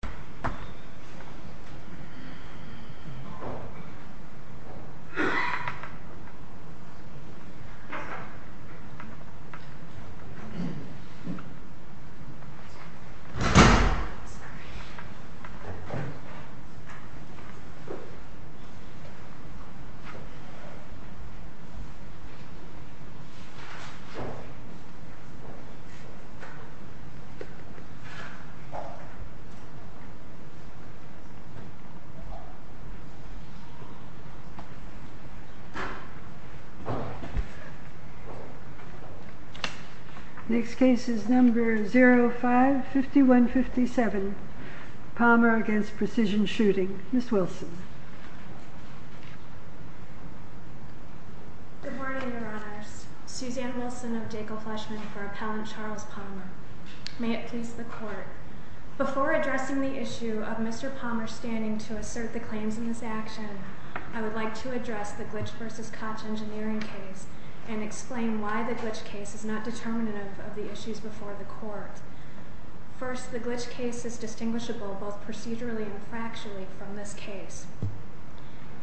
Precision Shooting Next case is number 055157, Palmer v. Precision Shooting, Ms. Wilson. Good morning, Your Honors. Suzanne Wilson of Jekyll Fleshman for Appellant Charles Palmer. May it please the Court. Before addressing the issue of Mr. Palmer standing to assert the claims in this action, I would like to address the Glitch v. Koch engineering case and explain why the Glitch case is not determinative of the issues before the Court. First, the Glitch case is distinguishable both procedurally and factually from this case.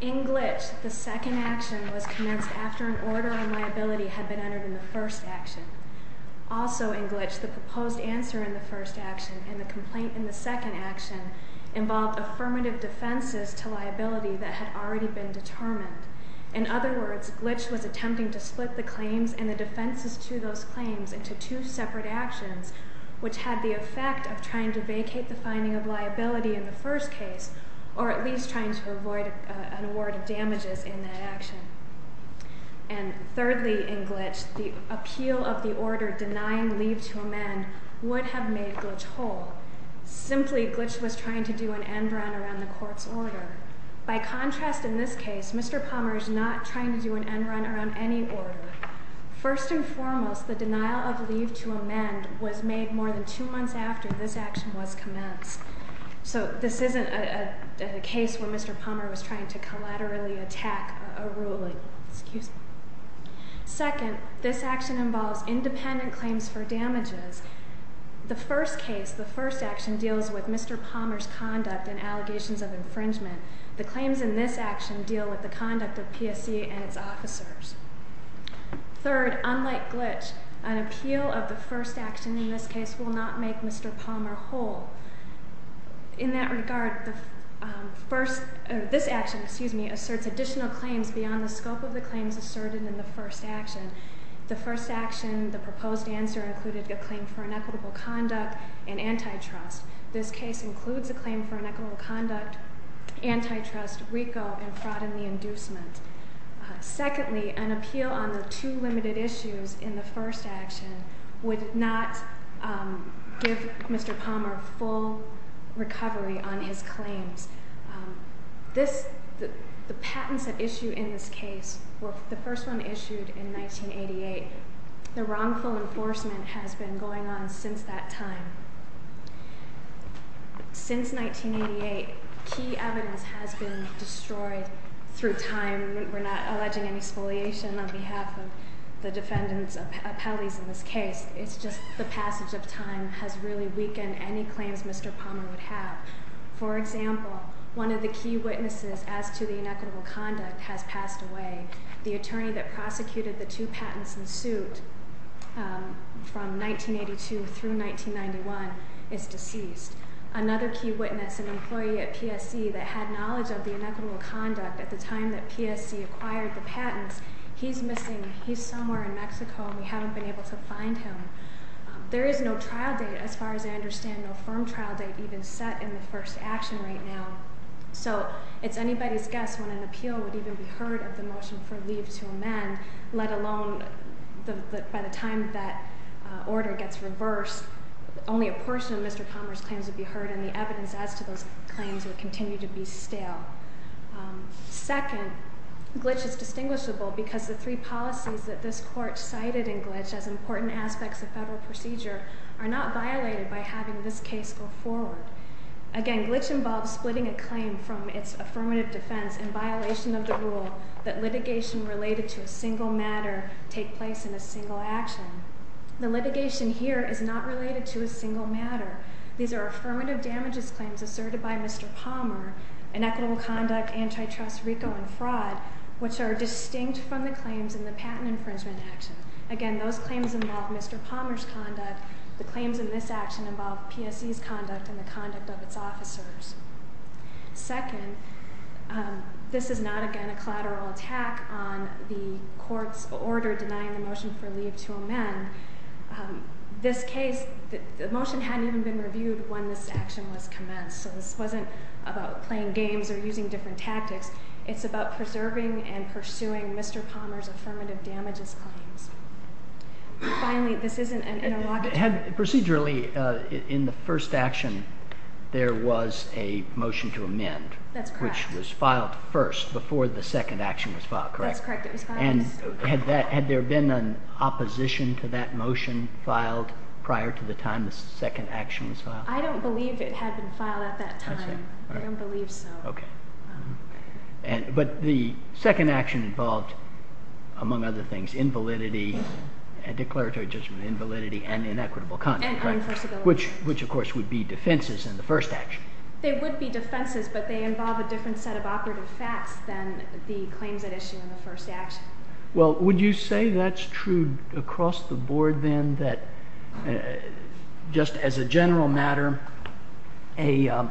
In Glitch, the second action was commenced after an order on liability had been entered in the first action. Also in Glitch, the proposed answer in the first action and the complaint in the second action involved affirmative defenses to liability that had already been determined. In other words, Glitch was attempting to split the claims and the defenses to those claims into two separate actions, which had the effect of trying to vacate the finding of liability in the first case, or at least trying to avoid an award of damages in that action. And thirdly in Glitch, the appeal of the order denying leave to amend would have made Glitch whole. Simply, Glitch was trying to do an end run around the Court's order. By contrast, in this case, Mr. Palmer is not trying to do an end run around any order. First and foremost, the denial of leave to amend was made more than two months after this action was commenced. So this isn't a case where Mr. Palmer was trying to collaterally attack a ruling. Second, this action involves independent claims for damages. The first case, the first action, deals with Mr. Palmer's conduct and allegations of infringement. The claims in this action deal with the conduct of PSC and its officers. Third, unlike Glitch, an appeal of the first action in this case will not make Mr. Palmer whole. In that regard, this action asserts additional claims beyond the scope of the claims asserted in the first action. The first action, the proposed answer included a claim for inequitable conduct and antitrust. This case includes a claim for inequitable conduct, antitrust, RICO, and fraud in the inducement. Secondly, an appeal on the two limited issues in the first action would not give Mr. Palmer full recovery on his claims. The patents at issue in this case were the first one issued in 1988. The wrongful enforcement has been going on since that time. Since 1988, key evidence has been destroyed through time. We're not alleging any spoliation on behalf of the defendants' appellees in this case. It's just the passage of time has really weakened any claims Mr. Palmer would have. For example, one of the key witnesses as to the inequitable conduct has passed away. The attorney that prosecuted the two patents in suit from 1982 through 1991 is deceased. Another key witness, an employee at PSC that had knowledge of the inequitable conduct at the time that PSC acquired the patents, he's missing. He's somewhere in Mexico and we haven't been able to find him. There is no trial date, as far as I understand, no firm trial date even set in the first action right now. So it's anybody's guess when an appeal would even be heard of the motion for leave to amend, let alone by the time that order gets reversed, only a portion of Mr. Palmer's claims would be heard and the evidence as to those claims would continue to be stale. Second, Glitch is distinguishable because the three policies that this court cited in Glitch as important aspects of federal procedure are not violated by having this case go forward. Again, Glitch involves splitting a claim from its affirmative defense in violation of the rule that litigation related to a single matter take place in a single action. The litigation here is not related to a single matter. These are affirmative damages claims asserted by Mr. Palmer, inequitable conduct, antitrust, RICO, and fraud, which are distinct from the claims in the patent infringement action. Again, those claims involve Mr. Palmer's conduct. The claims in this action involve PSC's conduct and the conduct of its officers. Second, this is not, again, a collateral attack on the court's order denying the motion for leave to amend. This case, the motion hadn't even been reviewed when this action was commenced, so this wasn't about playing games or using different tactics. It's about preserving and pursuing Mr. Palmer's affirmative damages claims. And finally, this isn't an interrogatory... Procedurally, in the first action, there was a motion to amend. That's correct. Which was filed first before the second action was filed, correct? That's correct, it was filed first. And had there been an opposition to that motion filed prior to the time the second action was filed? I don't believe it had been filed at that time. I see. I don't believe so. Okay. But the second action involved, among other things, invalidity, declaratory judgment, invalidity, and inequitable conduct, right? And unenforceability. Which, of course, would be defenses in the first action. They would be defenses, but they involve a different set of operative facts than the claims at issue in the first action. Well, would you say that's true across the board, then, that just as a general matter, a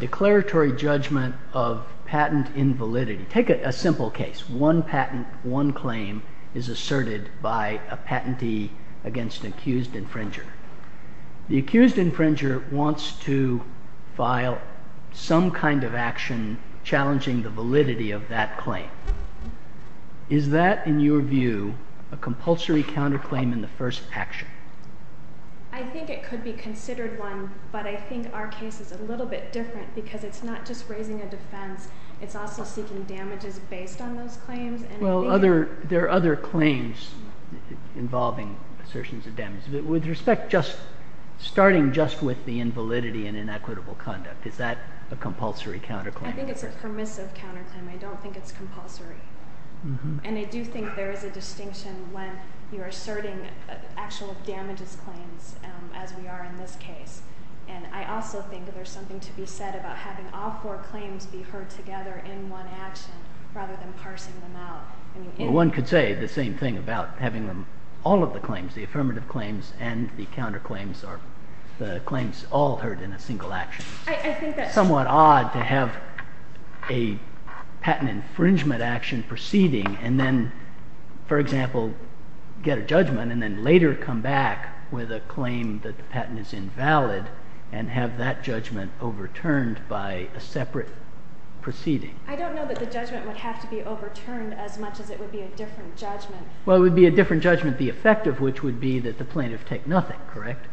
declaratory judgment of patent invalidity... Take a simple case. One patent, one claim is asserted by a patentee against an accused infringer. The accused infringer wants to file some kind of action challenging the validity of that claim. Is that, in your view, a compulsory counterclaim in the first action? I think it could be considered one, but I think our case is a little bit different because it's not just raising a defense. It's also seeking damages based on those claims. Well, there are other claims involving assertions of damages. With respect, just starting just with the invalidity and inequitable conduct, is that a compulsory counterclaim? I think it's a permissive counterclaim. I don't think it's compulsory. And I do think there is a distinction when you're asserting actual damages claims, as we are in this case. And I also think there's something to be said about having all four claims be heard together in one action rather than parsing them out. Well, one could say the same thing about having all of the claims, the affirmative claims and the counterclaims, the claims all heard in a single action. I think that's somewhat odd to have a patent infringement action proceeding and then, for example, get a judgment and then later come back with a claim that the patent is invalid and have that judgment overturned by a separate proceeding. I don't know that the judgment would have to be overturned as much as it would be a different judgment. Well, it would be a different judgment. The effect of which would be that the plaintiff take nothing, correct,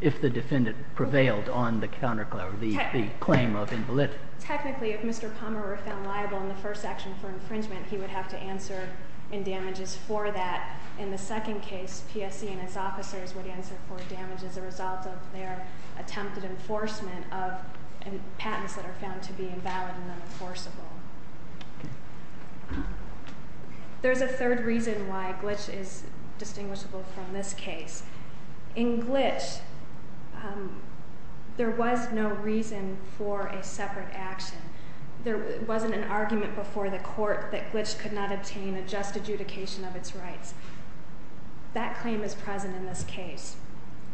if the defendant prevailed on the claim of invalidity. Technically, if Mr. Palmer were found liable in the first action for infringement, he would have to answer in damages for that. In the second case, PSE and his officers would answer for damage as a result of their attempted enforcement of patents that are found to be invalid and unenforceable. There's a third reason why Glitch is distinguishable from this case. In Glitch, there was no reason for a separate action. There wasn't an argument before the court that Glitch could not obtain a just adjudication of its rights. That claim is present in this case.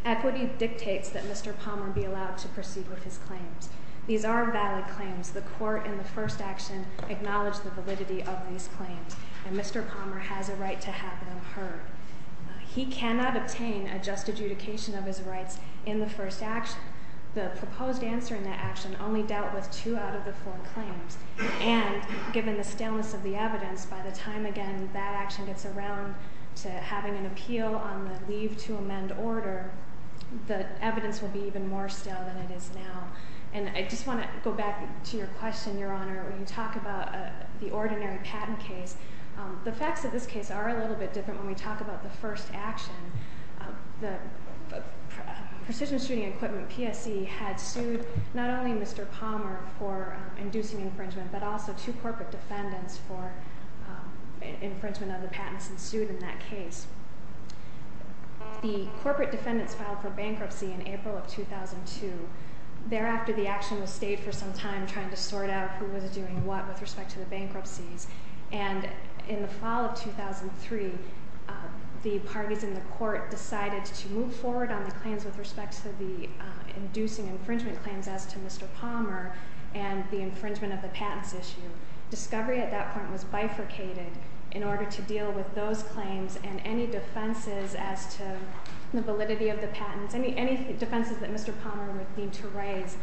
Equity dictates that Mr. Palmer be allowed to proceed with his claims. These are valid claims. The court in the first action acknowledged the validity of these claims, and Mr. Palmer has a right to have them heard. He cannot obtain a just adjudication of his rights in the first action. The proposed answer in that action only dealt with two out of the four claims, and given the staleness of the evidence, by the time again that action gets around to having an appeal on the leave to amend order, the evidence will be even more stale than it is now. And I just want to go back to your question, Your Honor, when you talk about the ordinary patent case. The facts of this case are a little bit different when we talk about the first action. The precision shooting equipment, PSE, had sued not only Mr. Palmer for inducing infringement, but also two corporate defendants for infringement of the patents and sued in that case. The corporate defendants filed for bankruptcy in April of 2002. Thereafter, the action was stayed for some time trying to sort out who was doing what with respect to the bankruptcies. And in the fall of 2003, the parties in the court decided to move forward on the claims with respect to the inducing infringement claims as to Mr. Palmer and the infringement of the patents issue. Discovery at that point was bifurcated in order to deal with those claims and any defenses as to the validity of the patents, any defenses that Mr. Palmer would need to raise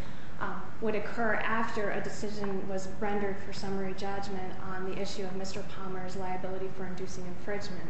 would occur after a decision was rendered for summary judgment on the issue of Mr. Palmer's liability for inducing infringement.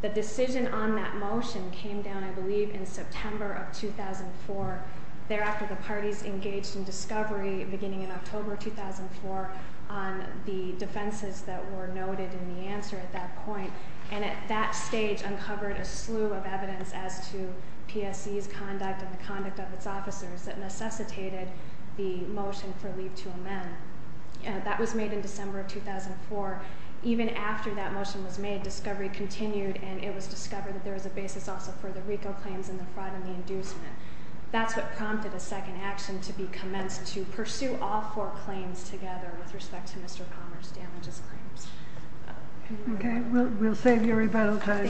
The decision on that motion came down, I believe, in September of 2004. Thereafter, the parties engaged in Discovery beginning in October 2004 on the defenses that were noted in the answer at that point. And at that stage uncovered a slew of evidence as to PSE's conduct and the conduct of its officers that necessitated the motion for leave to amend. That was made in December of 2004. Even after that motion was made, Discovery continued and it was discovered that there was a basis also for the RICO claims and the fraud and the inducement. That's what prompted a second action to be commenced to pursue all four claims together with respect to Mr. Palmer's damages claims. Okay, we'll save you rebuttal time.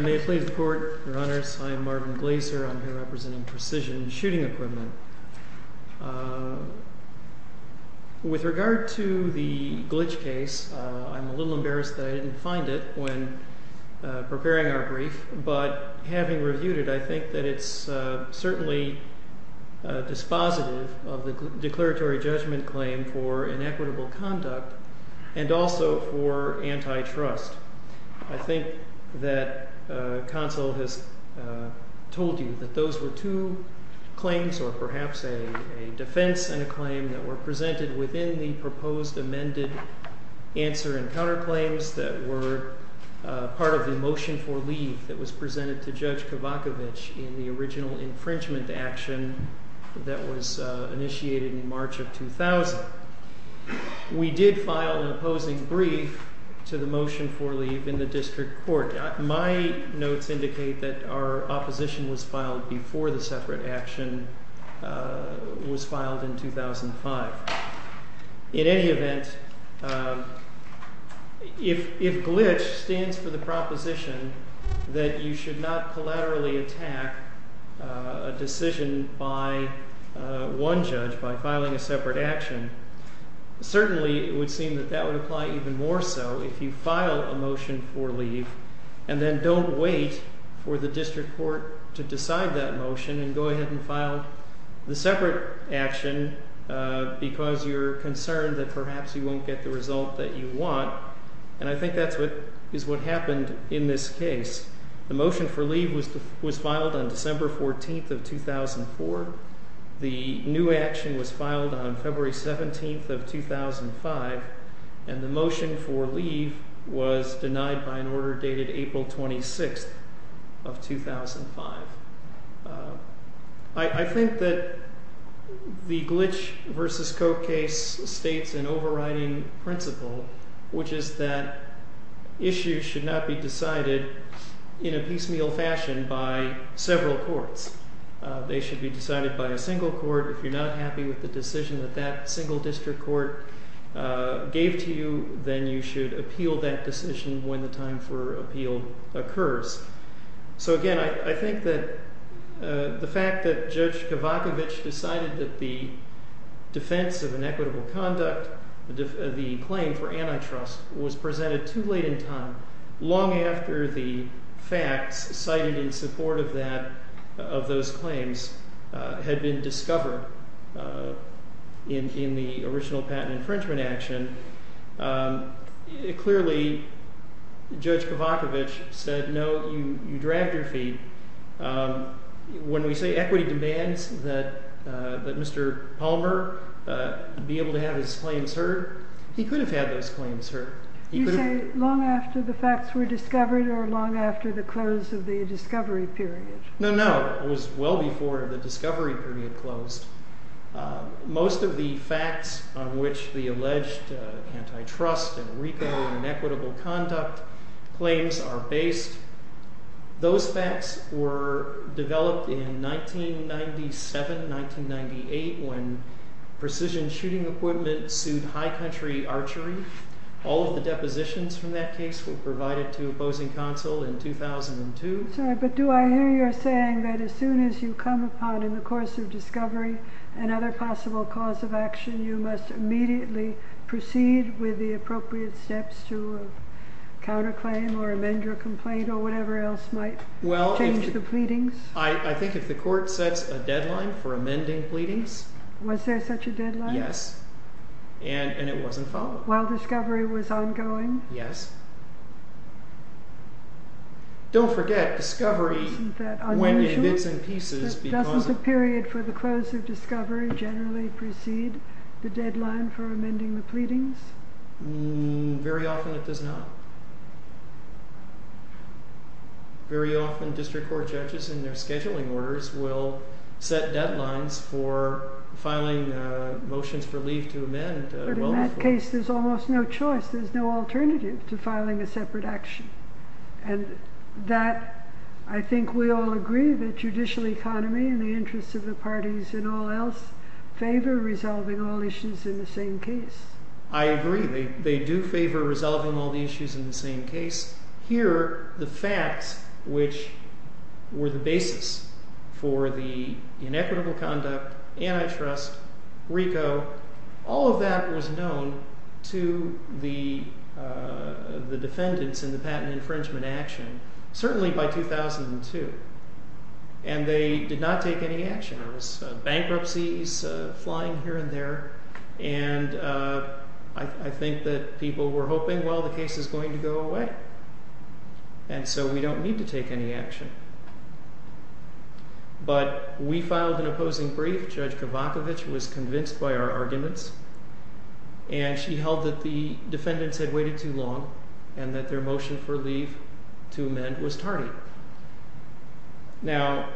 May it please the Court, Your Honors, I'm Marvin Glaser. I'm here representing Precision Shooting Equipment. With regard to the glitch case, I'm a little embarrassed that I didn't find it when preparing our brief. But having reviewed it, I think that it's certainly dispositive of the declaratory judgment claim for inequitable conduct and also for antitrust. I think that counsel has told you that those were two claims or perhaps a defense and a claim that were presented within the proposed amended answer and counterclaims that were part of the motion for leave that was presented to Judge Kavakovich in the original infringement action that was initiated in March of 2000. We did file an opposing brief to the motion for leave in the district court. My notes indicate that our opposition was filed before the separate action was filed in 2005. In any event, if glitch stands for the proposition that you should not collaterally attack a decision by one judge by filing a separate action, certainly it would seem that that would apply even more so if you file a motion for leave and then don't wait for the district court to decide that motion and go ahead and file the separate action because you're concerned that perhaps you won't get the result that you want. And I think that is what happened in this case. The motion for leave was filed on December 14th of 2004. The new action was filed on February 17th of 2005. And the motion for leave was denied by an order dated April 26th of 2005. I think that the glitch versus Coke case states an overriding principle, which is that issues should not be decided in a piecemeal fashion by several courts. They should be decided by a single court. If you're not happy with the decision that that single district court gave to you, then you should appeal that decision when the time for appeal occurs. So again, I think that the fact that Judge Kavakovich decided that the defense of inequitable conduct, the claim for antitrust, was presented too late in time, long after the facts cited in support of those claims had been discovered in the original patent infringement action, clearly Judge Kavakovich said, no, you dragged your feet. When we say equity demands that Mr. Palmer be able to have his claims heard, he could have had those claims heard. You say long after the facts were discovered or long after the close of the discovery period? No, no. It was well before the discovery period closed. Most of the facts on which the alleged antitrust and RICO and inequitable conduct claims are based, those facts were developed in 1997, 1998, when precision shooting equipment sued high country archery. All of the depositions from that case were provided to opposing counsel in 2002. Sorry, but do I hear you saying that as soon as you come upon in the course of discovery another possible cause of action, you must immediately proceed with the appropriate steps to counterclaim or amend your complaint or whatever else might change the pleadings? I think if the court sets a deadline for amending pleadings. Was there such a deadline? Yes, and it wasn't followed. While discovery was ongoing? Yes. Don't forget discovery when it's in pieces. Doesn't the period for the close of discovery generally precede the deadline for amending the pleadings? Very often it does not. Very often district court judges in their scheduling orders will set deadlines for filing motions for leave to amend. But in that case, there's almost no choice. There's no alternative to filing a separate action. And that, I think we all agree that judicial economy and the interests of the parties and all else favor resolving all issues in the same case. I agree. They do favor resolving all the issues in the same case. Here, the facts which were the basis for the inequitable conduct, antitrust, RICO, all of that was known to the defendants in the patent infringement action, certainly by 2002. And they did not take any action. There was bankruptcies flying here and there. And I think that people were hoping, well, the case is going to go away. And so we don't need to take any action. But we filed an opposing brief. Judge Kavakovich was convinced by our arguments. And she held that the defendants had waited too long and that their motion for leave to amend was tardy. Now,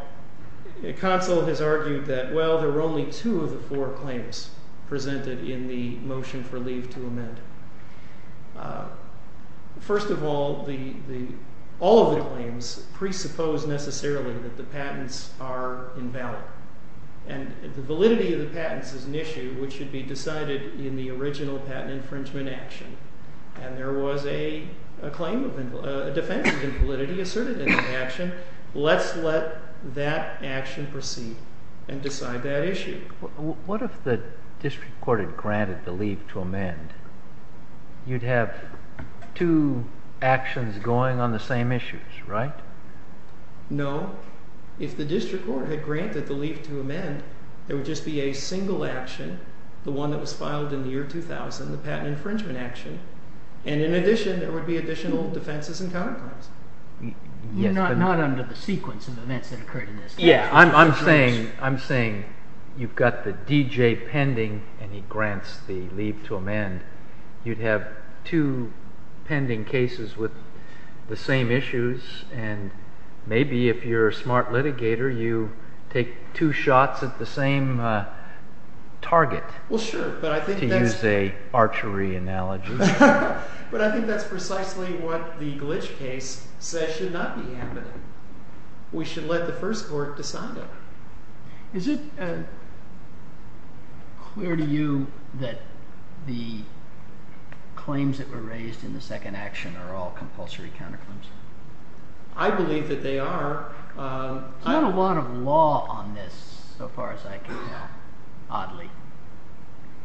Consul has argued that, well, there were only two of the four claims presented in the motion for leave to amend. First of all, all of the claims presuppose necessarily that the patents are invalid. And the validity of the patents is an issue which should be decided in the original patent infringement action. And there was a claim of a defense of invalidity asserted in that action. Let's let that action proceed and decide that issue. What if the district court had granted the leave to amend? You'd have two actions going on the same issues, right? No. If the district court had granted the leave to amend, there would just be a single action, the one that was filed in the year 2000, the patent infringement action. And in addition, there would be additional defenses and counterclaims. You're not under the sequence of events that occurred in this case. Yeah, I'm saying you've got the D.J. pending and he grants the leave to amend. You'd have two pending cases with the same issues. And maybe if you're a smart litigator, you take two shots at the same target. To use an archery analogy. But I think that's precisely what the glitch case says should not be happening. We should let the first court decide that. Is it clear to you that the claims that were raised in the second action are all compulsory counterclaims? I believe that they are. There's not a lot of law on this so far as I can tell, oddly.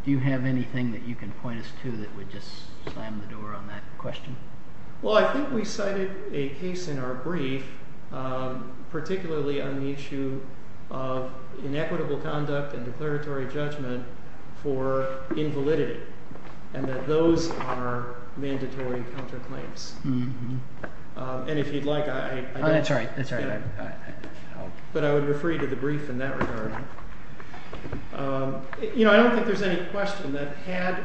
Do you have anything that you can point us to that would just slam the door on that question? Well, I think we cited a case in our brief, particularly on the issue of inequitable conduct and declaratory judgment for invalidity. And that those are mandatory counterclaims. And if you'd like, I can help. But I would refer you to the brief in that regard. You know, I don't think there's any question that had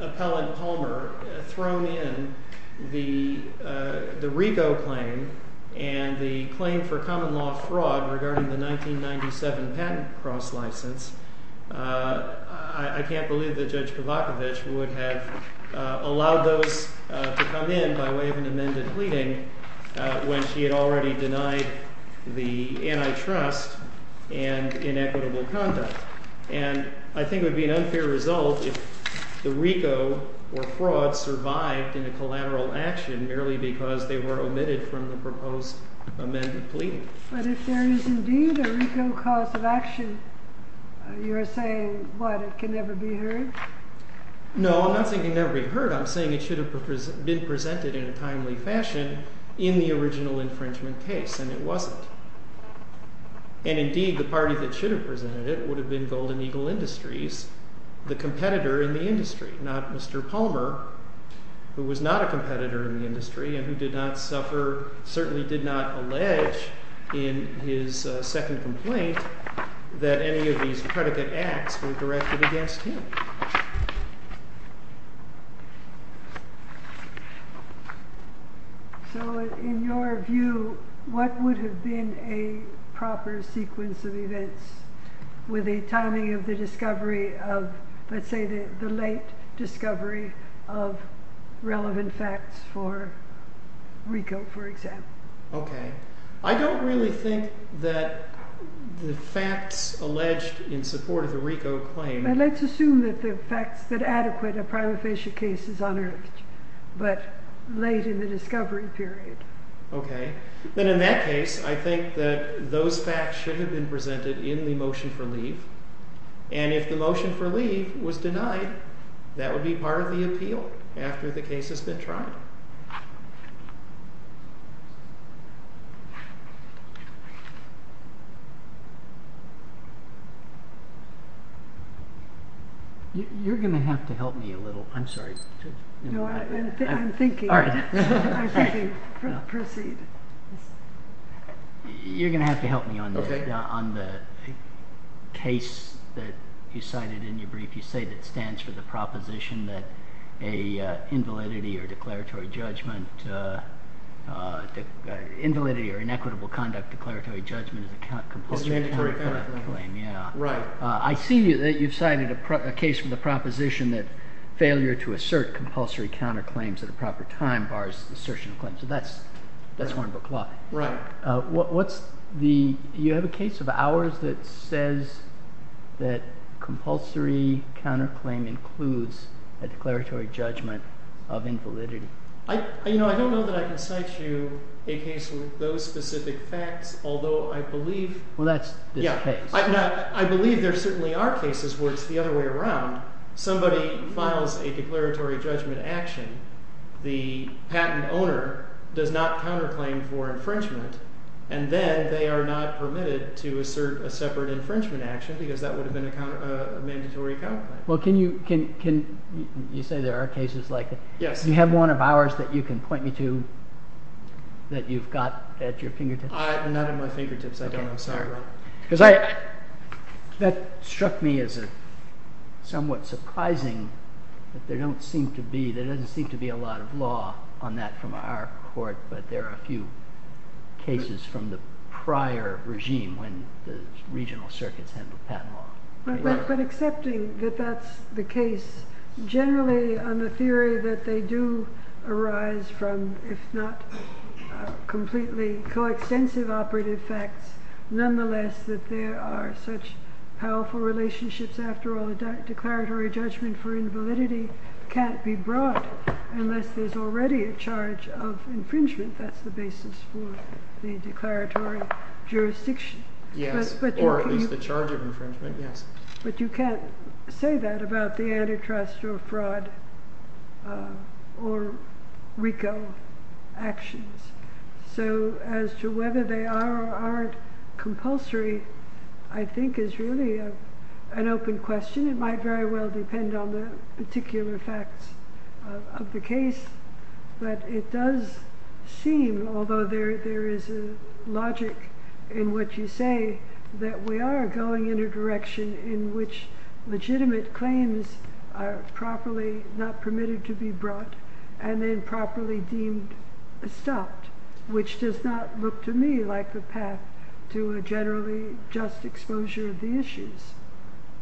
Appellant Palmer thrown in the Rigo claim and the claim for common law fraud regarding the 1997 patent cross-license, I can't believe that Judge Kavakovich would have allowed those to come in by way of an amended pleading when she had already denied the antitrust and inequitable conduct. And I think it would be an unfair result if the Rigo or fraud survived in a collateral action merely because they were omitted from the proposed amended pleading. But if there is indeed a Rigo cause of action, you're saying, what, it can never be heard? No, I'm not saying it can never be heard. I'm saying it should have been presented in a timely fashion in the original infringement case, and it wasn't. And indeed, the party that should have presented it would have been Golden Eagle Industries, the competitor in the industry, not Mr. Palmer, who was not a competitor in the industry and who did not suffer, certainly did not allege in his second complaint that any of these predicate acts were directed against him. So in your view, what would have been a proper sequence of events with a timing of the discovery of, let's say, the late discovery of relevant facts for Rigo, for example? OK, I don't really think that the facts alleged in support of the Rigo claim. Let's assume that the facts that adequate a prima facie case is unearthed, but late in the discovery period. OK, then in that case, I think that those facts should have been presented in the motion for leave. And if the motion for leave was denied, that would be part of the appeal after the case has been tried. You're going to have to help me a little. I'm sorry. No, I'm thinking. I'm thinking. Proceed. You're going to have to help me on the case that you cited in your brief. You say that it stands for the proposition that a invalidity or declaratory judgment – invalidity or inequitable conduct declaratory judgment is a compulsory counterclaim. Right. I see that you've cited a case with a proposition that failure to assert compulsory counterclaims at a proper time bars assertion of claims. So that's Hornbook law. Right. What's the – you have a case of ours that says that compulsory counterclaim includes a declaratory judgment of invalidity. I don't know that I can cite you a case with those specific facts, although I believe – Well, that's this case. I believe there certainly are cases where it's the other way around. Somebody files a declaratory judgment action. The patent owner does not counterclaim for infringement, and then they are not permitted to assert a separate infringement action because that would have been a mandatory counterclaim. Well, can you – you say there are cases like that. Yes. Do you have one of ours that you can point me to that you've got at your fingertips? Not at my fingertips. I don't know. I'm sorry. Because I – that struck me as somewhat surprising that there don't seem to be – there doesn't seem to be a lot of law on that from our court, but there are a few cases from the prior regime when the regional circuits handled patent law. But accepting that that's the case, generally on the theory that they do arise from, if not completely coextensive operative facts, nonetheless that there are such powerful relationships after all, a declaratory judgment for invalidity can't be brought unless there's already a charge of infringement. That's the basis for the declaratory jurisdiction. Yes. Or at least the charge of infringement, yes. But you can't say that about the antitrust or fraud or RICO actions. So as to whether they are or aren't compulsory I think is really an open question. It might very well depend on the particular facts of the case, but it does seem, although there is a logic in what you say, that we are going in a direction in which legitimate claims are properly not permitted to be brought and then properly deemed stopped, which does not look to me like the path to a generally just exposure of the issues.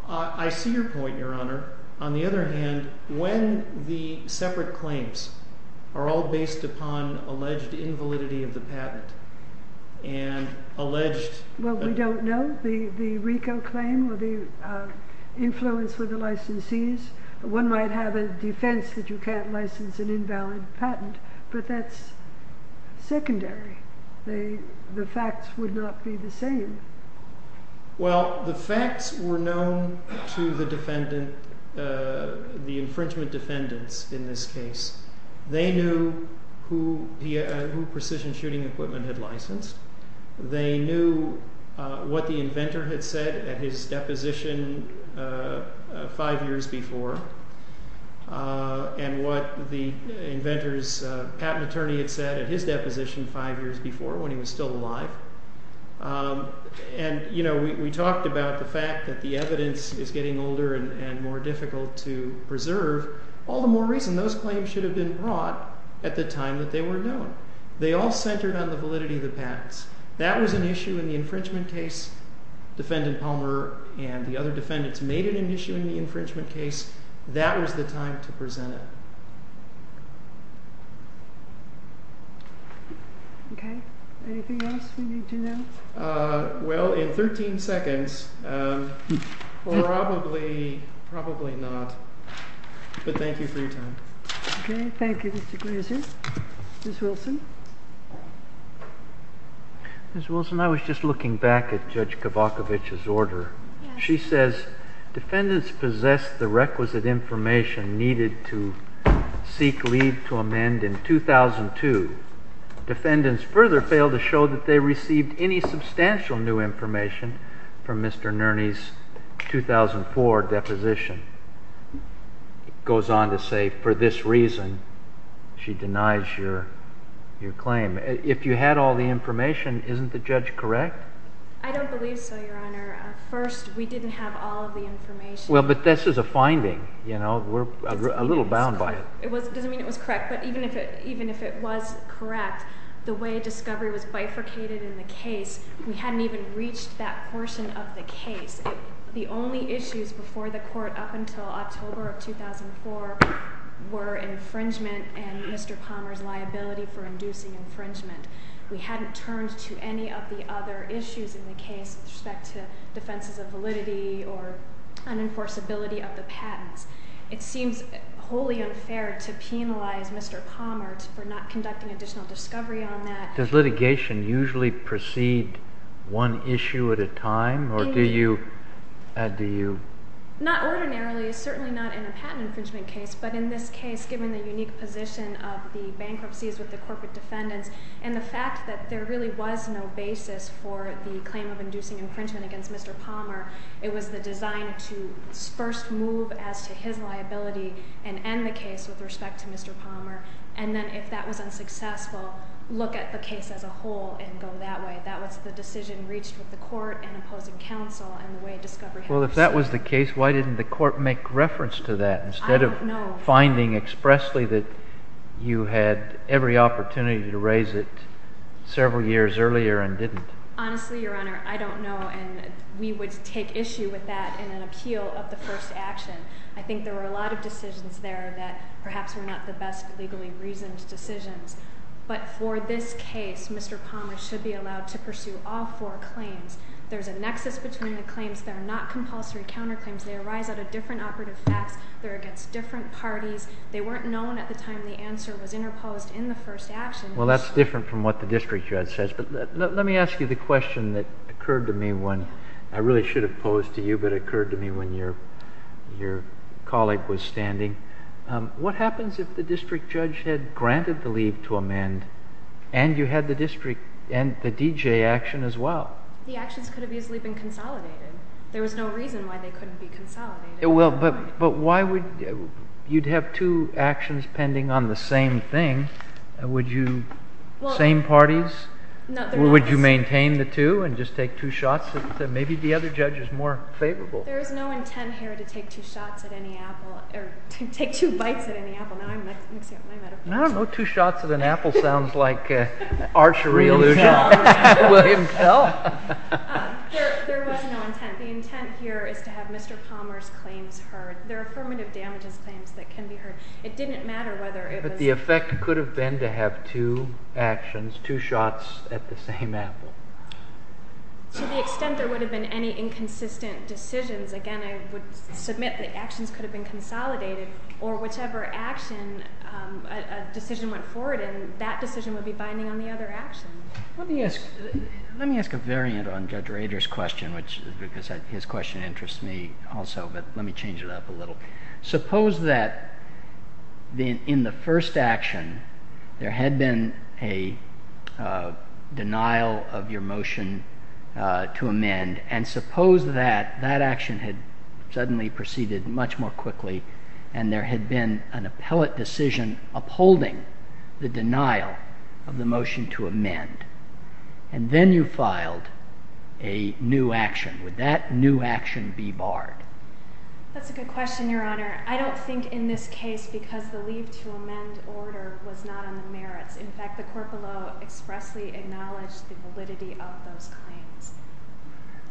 I see your point, Your Honor. On the other hand, when the separate claims are all based upon alleged invalidity of the patent and alleged... Well, we don't know. The RICO claim or the influence with the licensees, one might have a defense that you can't license an invalid patent, but that's secondary. The facts would not be the same. Well, the facts were known to the infringement defendants in this case. They knew who Precision Shooting Equipment had licensed. They knew what the inventor had said at his deposition five years before, and what the inventor's patent attorney had said at his deposition five years before when he was still alive. And, you know, we talked about the fact that the evidence is getting older and more difficult to preserve. All the more reason those claims should have been brought at the time that they were known. They all centered on the validity of the patents. That was an issue in the infringement case. Defendant Palmer and the other defendants made it an issue in the infringement case. That was the time to present it. Okay. Anything else we need to know? Well, in 13 seconds, probably, probably not. But thank you for your time. Thank you, Mr. Glazer. Ms. Wilson? Ms. Wilson, I was just looking back at Judge Kavakovich's order. She says defendants possessed the requisite information needed to seek leave to amend in 2002. Defendants further failed to show that they received any substantial new information from Mr. Nerny's 2004 deposition. It goes on to say, for this reason, she denies your claim. If you had all the information, isn't the judge correct? I don't believe so, Your Honor. First, we didn't have all of the information. Well, but this is a finding. We're a little bound by it. It doesn't mean it was correct. But even if it was correct, the way discovery was bifurcated in the case, we hadn't even reached that portion of the case. The only issues before the court up until October of 2004 were infringement and Mr. Palmer's liability for inducing infringement. We hadn't turned to any of the other issues in the case with respect to defenses of validity or unenforceability of the patents. It seems wholly unfair to penalize Mr. Palmer for not conducting additional discovery on that. Does litigation usually proceed one issue at a time, or do you add to you? Not ordinarily, certainly not in a patent infringement case. But in this case, given the unique position of the bankruptcies with the corporate defendants, and the fact that there really was no basis for the claim of inducing infringement against Mr. Palmer, it was the design to first move as to his liability and end the case with respect to Mr. Palmer. And then if that was unsuccessful, look at the case as a whole and go that way. That was the decision reached with the court in opposing counsel and the way discovery happened. Well, if that was the case, why didn't the court make reference to that instead of? I don't know. Finding expressly that you had every opportunity to raise it several years earlier and didn't. Honestly, Your Honor, I don't know. And we would take issue with that in an appeal of the first action. I think there were a lot of decisions there that perhaps were not the best legally reasoned decisions. But for this case, Mr. Palmer should be allowed to pursue all four claims. There's a nexus between the claims. They're not compulsory counterclaims. They arise out of different operative facts. They're against different parties. They weren't known at the time the answer was interposed in the first action. Well, that's different from what the district judge says. But let me ask you the question that occurred to me when I really should have posed to you but occurred to me when your colleague was standing. What happens if the district judge had granted the leave to amend and you had the district and the DJ action as well? The actions could have easily been consolidated. There was no reason why they couldn't be consolidated. Well, but why would you have two actions pending on the same thing? Would you, same parties? Would you maintain the two and just take two shots? Maybe the other judge is more favorable. There is no intent here to take two shots at any apple or take two bites at any apple. Now I'm mixing up my metaphors. I don't know. Two shots at an apple sounds like archery illusion. William Pell. There was no intent. The intent here is to have Mr. Palmer's claims heard. There are affirmative damages claims that can be heard. It didn't matter whether it was. But the effect could have been to have two actions, two shots at the same apple. To the extent there would have been any inconsistent decisions, again, I would submit the actions could have been consolidated or whichever action a decision went forward in, that decision would be binding on the other action. Let me ask a variant on Judge Rader's question because his question interests me also. But let me change it up a little. Suppose that in the first action there had been a denial of your motion to amend. And suppose that that action had suddenly proceeded much more quickly and there had been an appellate decision upholding the denial of the motion to amend. And then you filed a new action. Would that new action be barred? That's a good question, Your Honor. I don't think in this case because the leave to amend order was not on the merits. In fact, the corporeal expressly acknowledged the validity of those claims.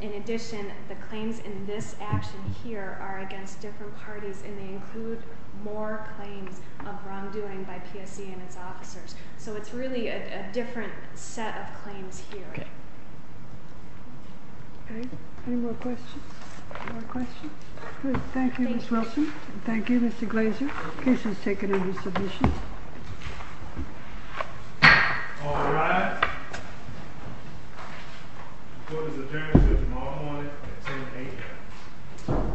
In addition, the claims in this action here are against different parties and they include more claims of wrongdoing by PSC and its officers. So it's really a different set of claims here. Okay. Any more questions? Thank you, Ms. Wilson. Thank you, Mr. Glazer. The case is taken into submission. All rise. The court has adjourned. There's a moment on it at 10 a.m. Thank you.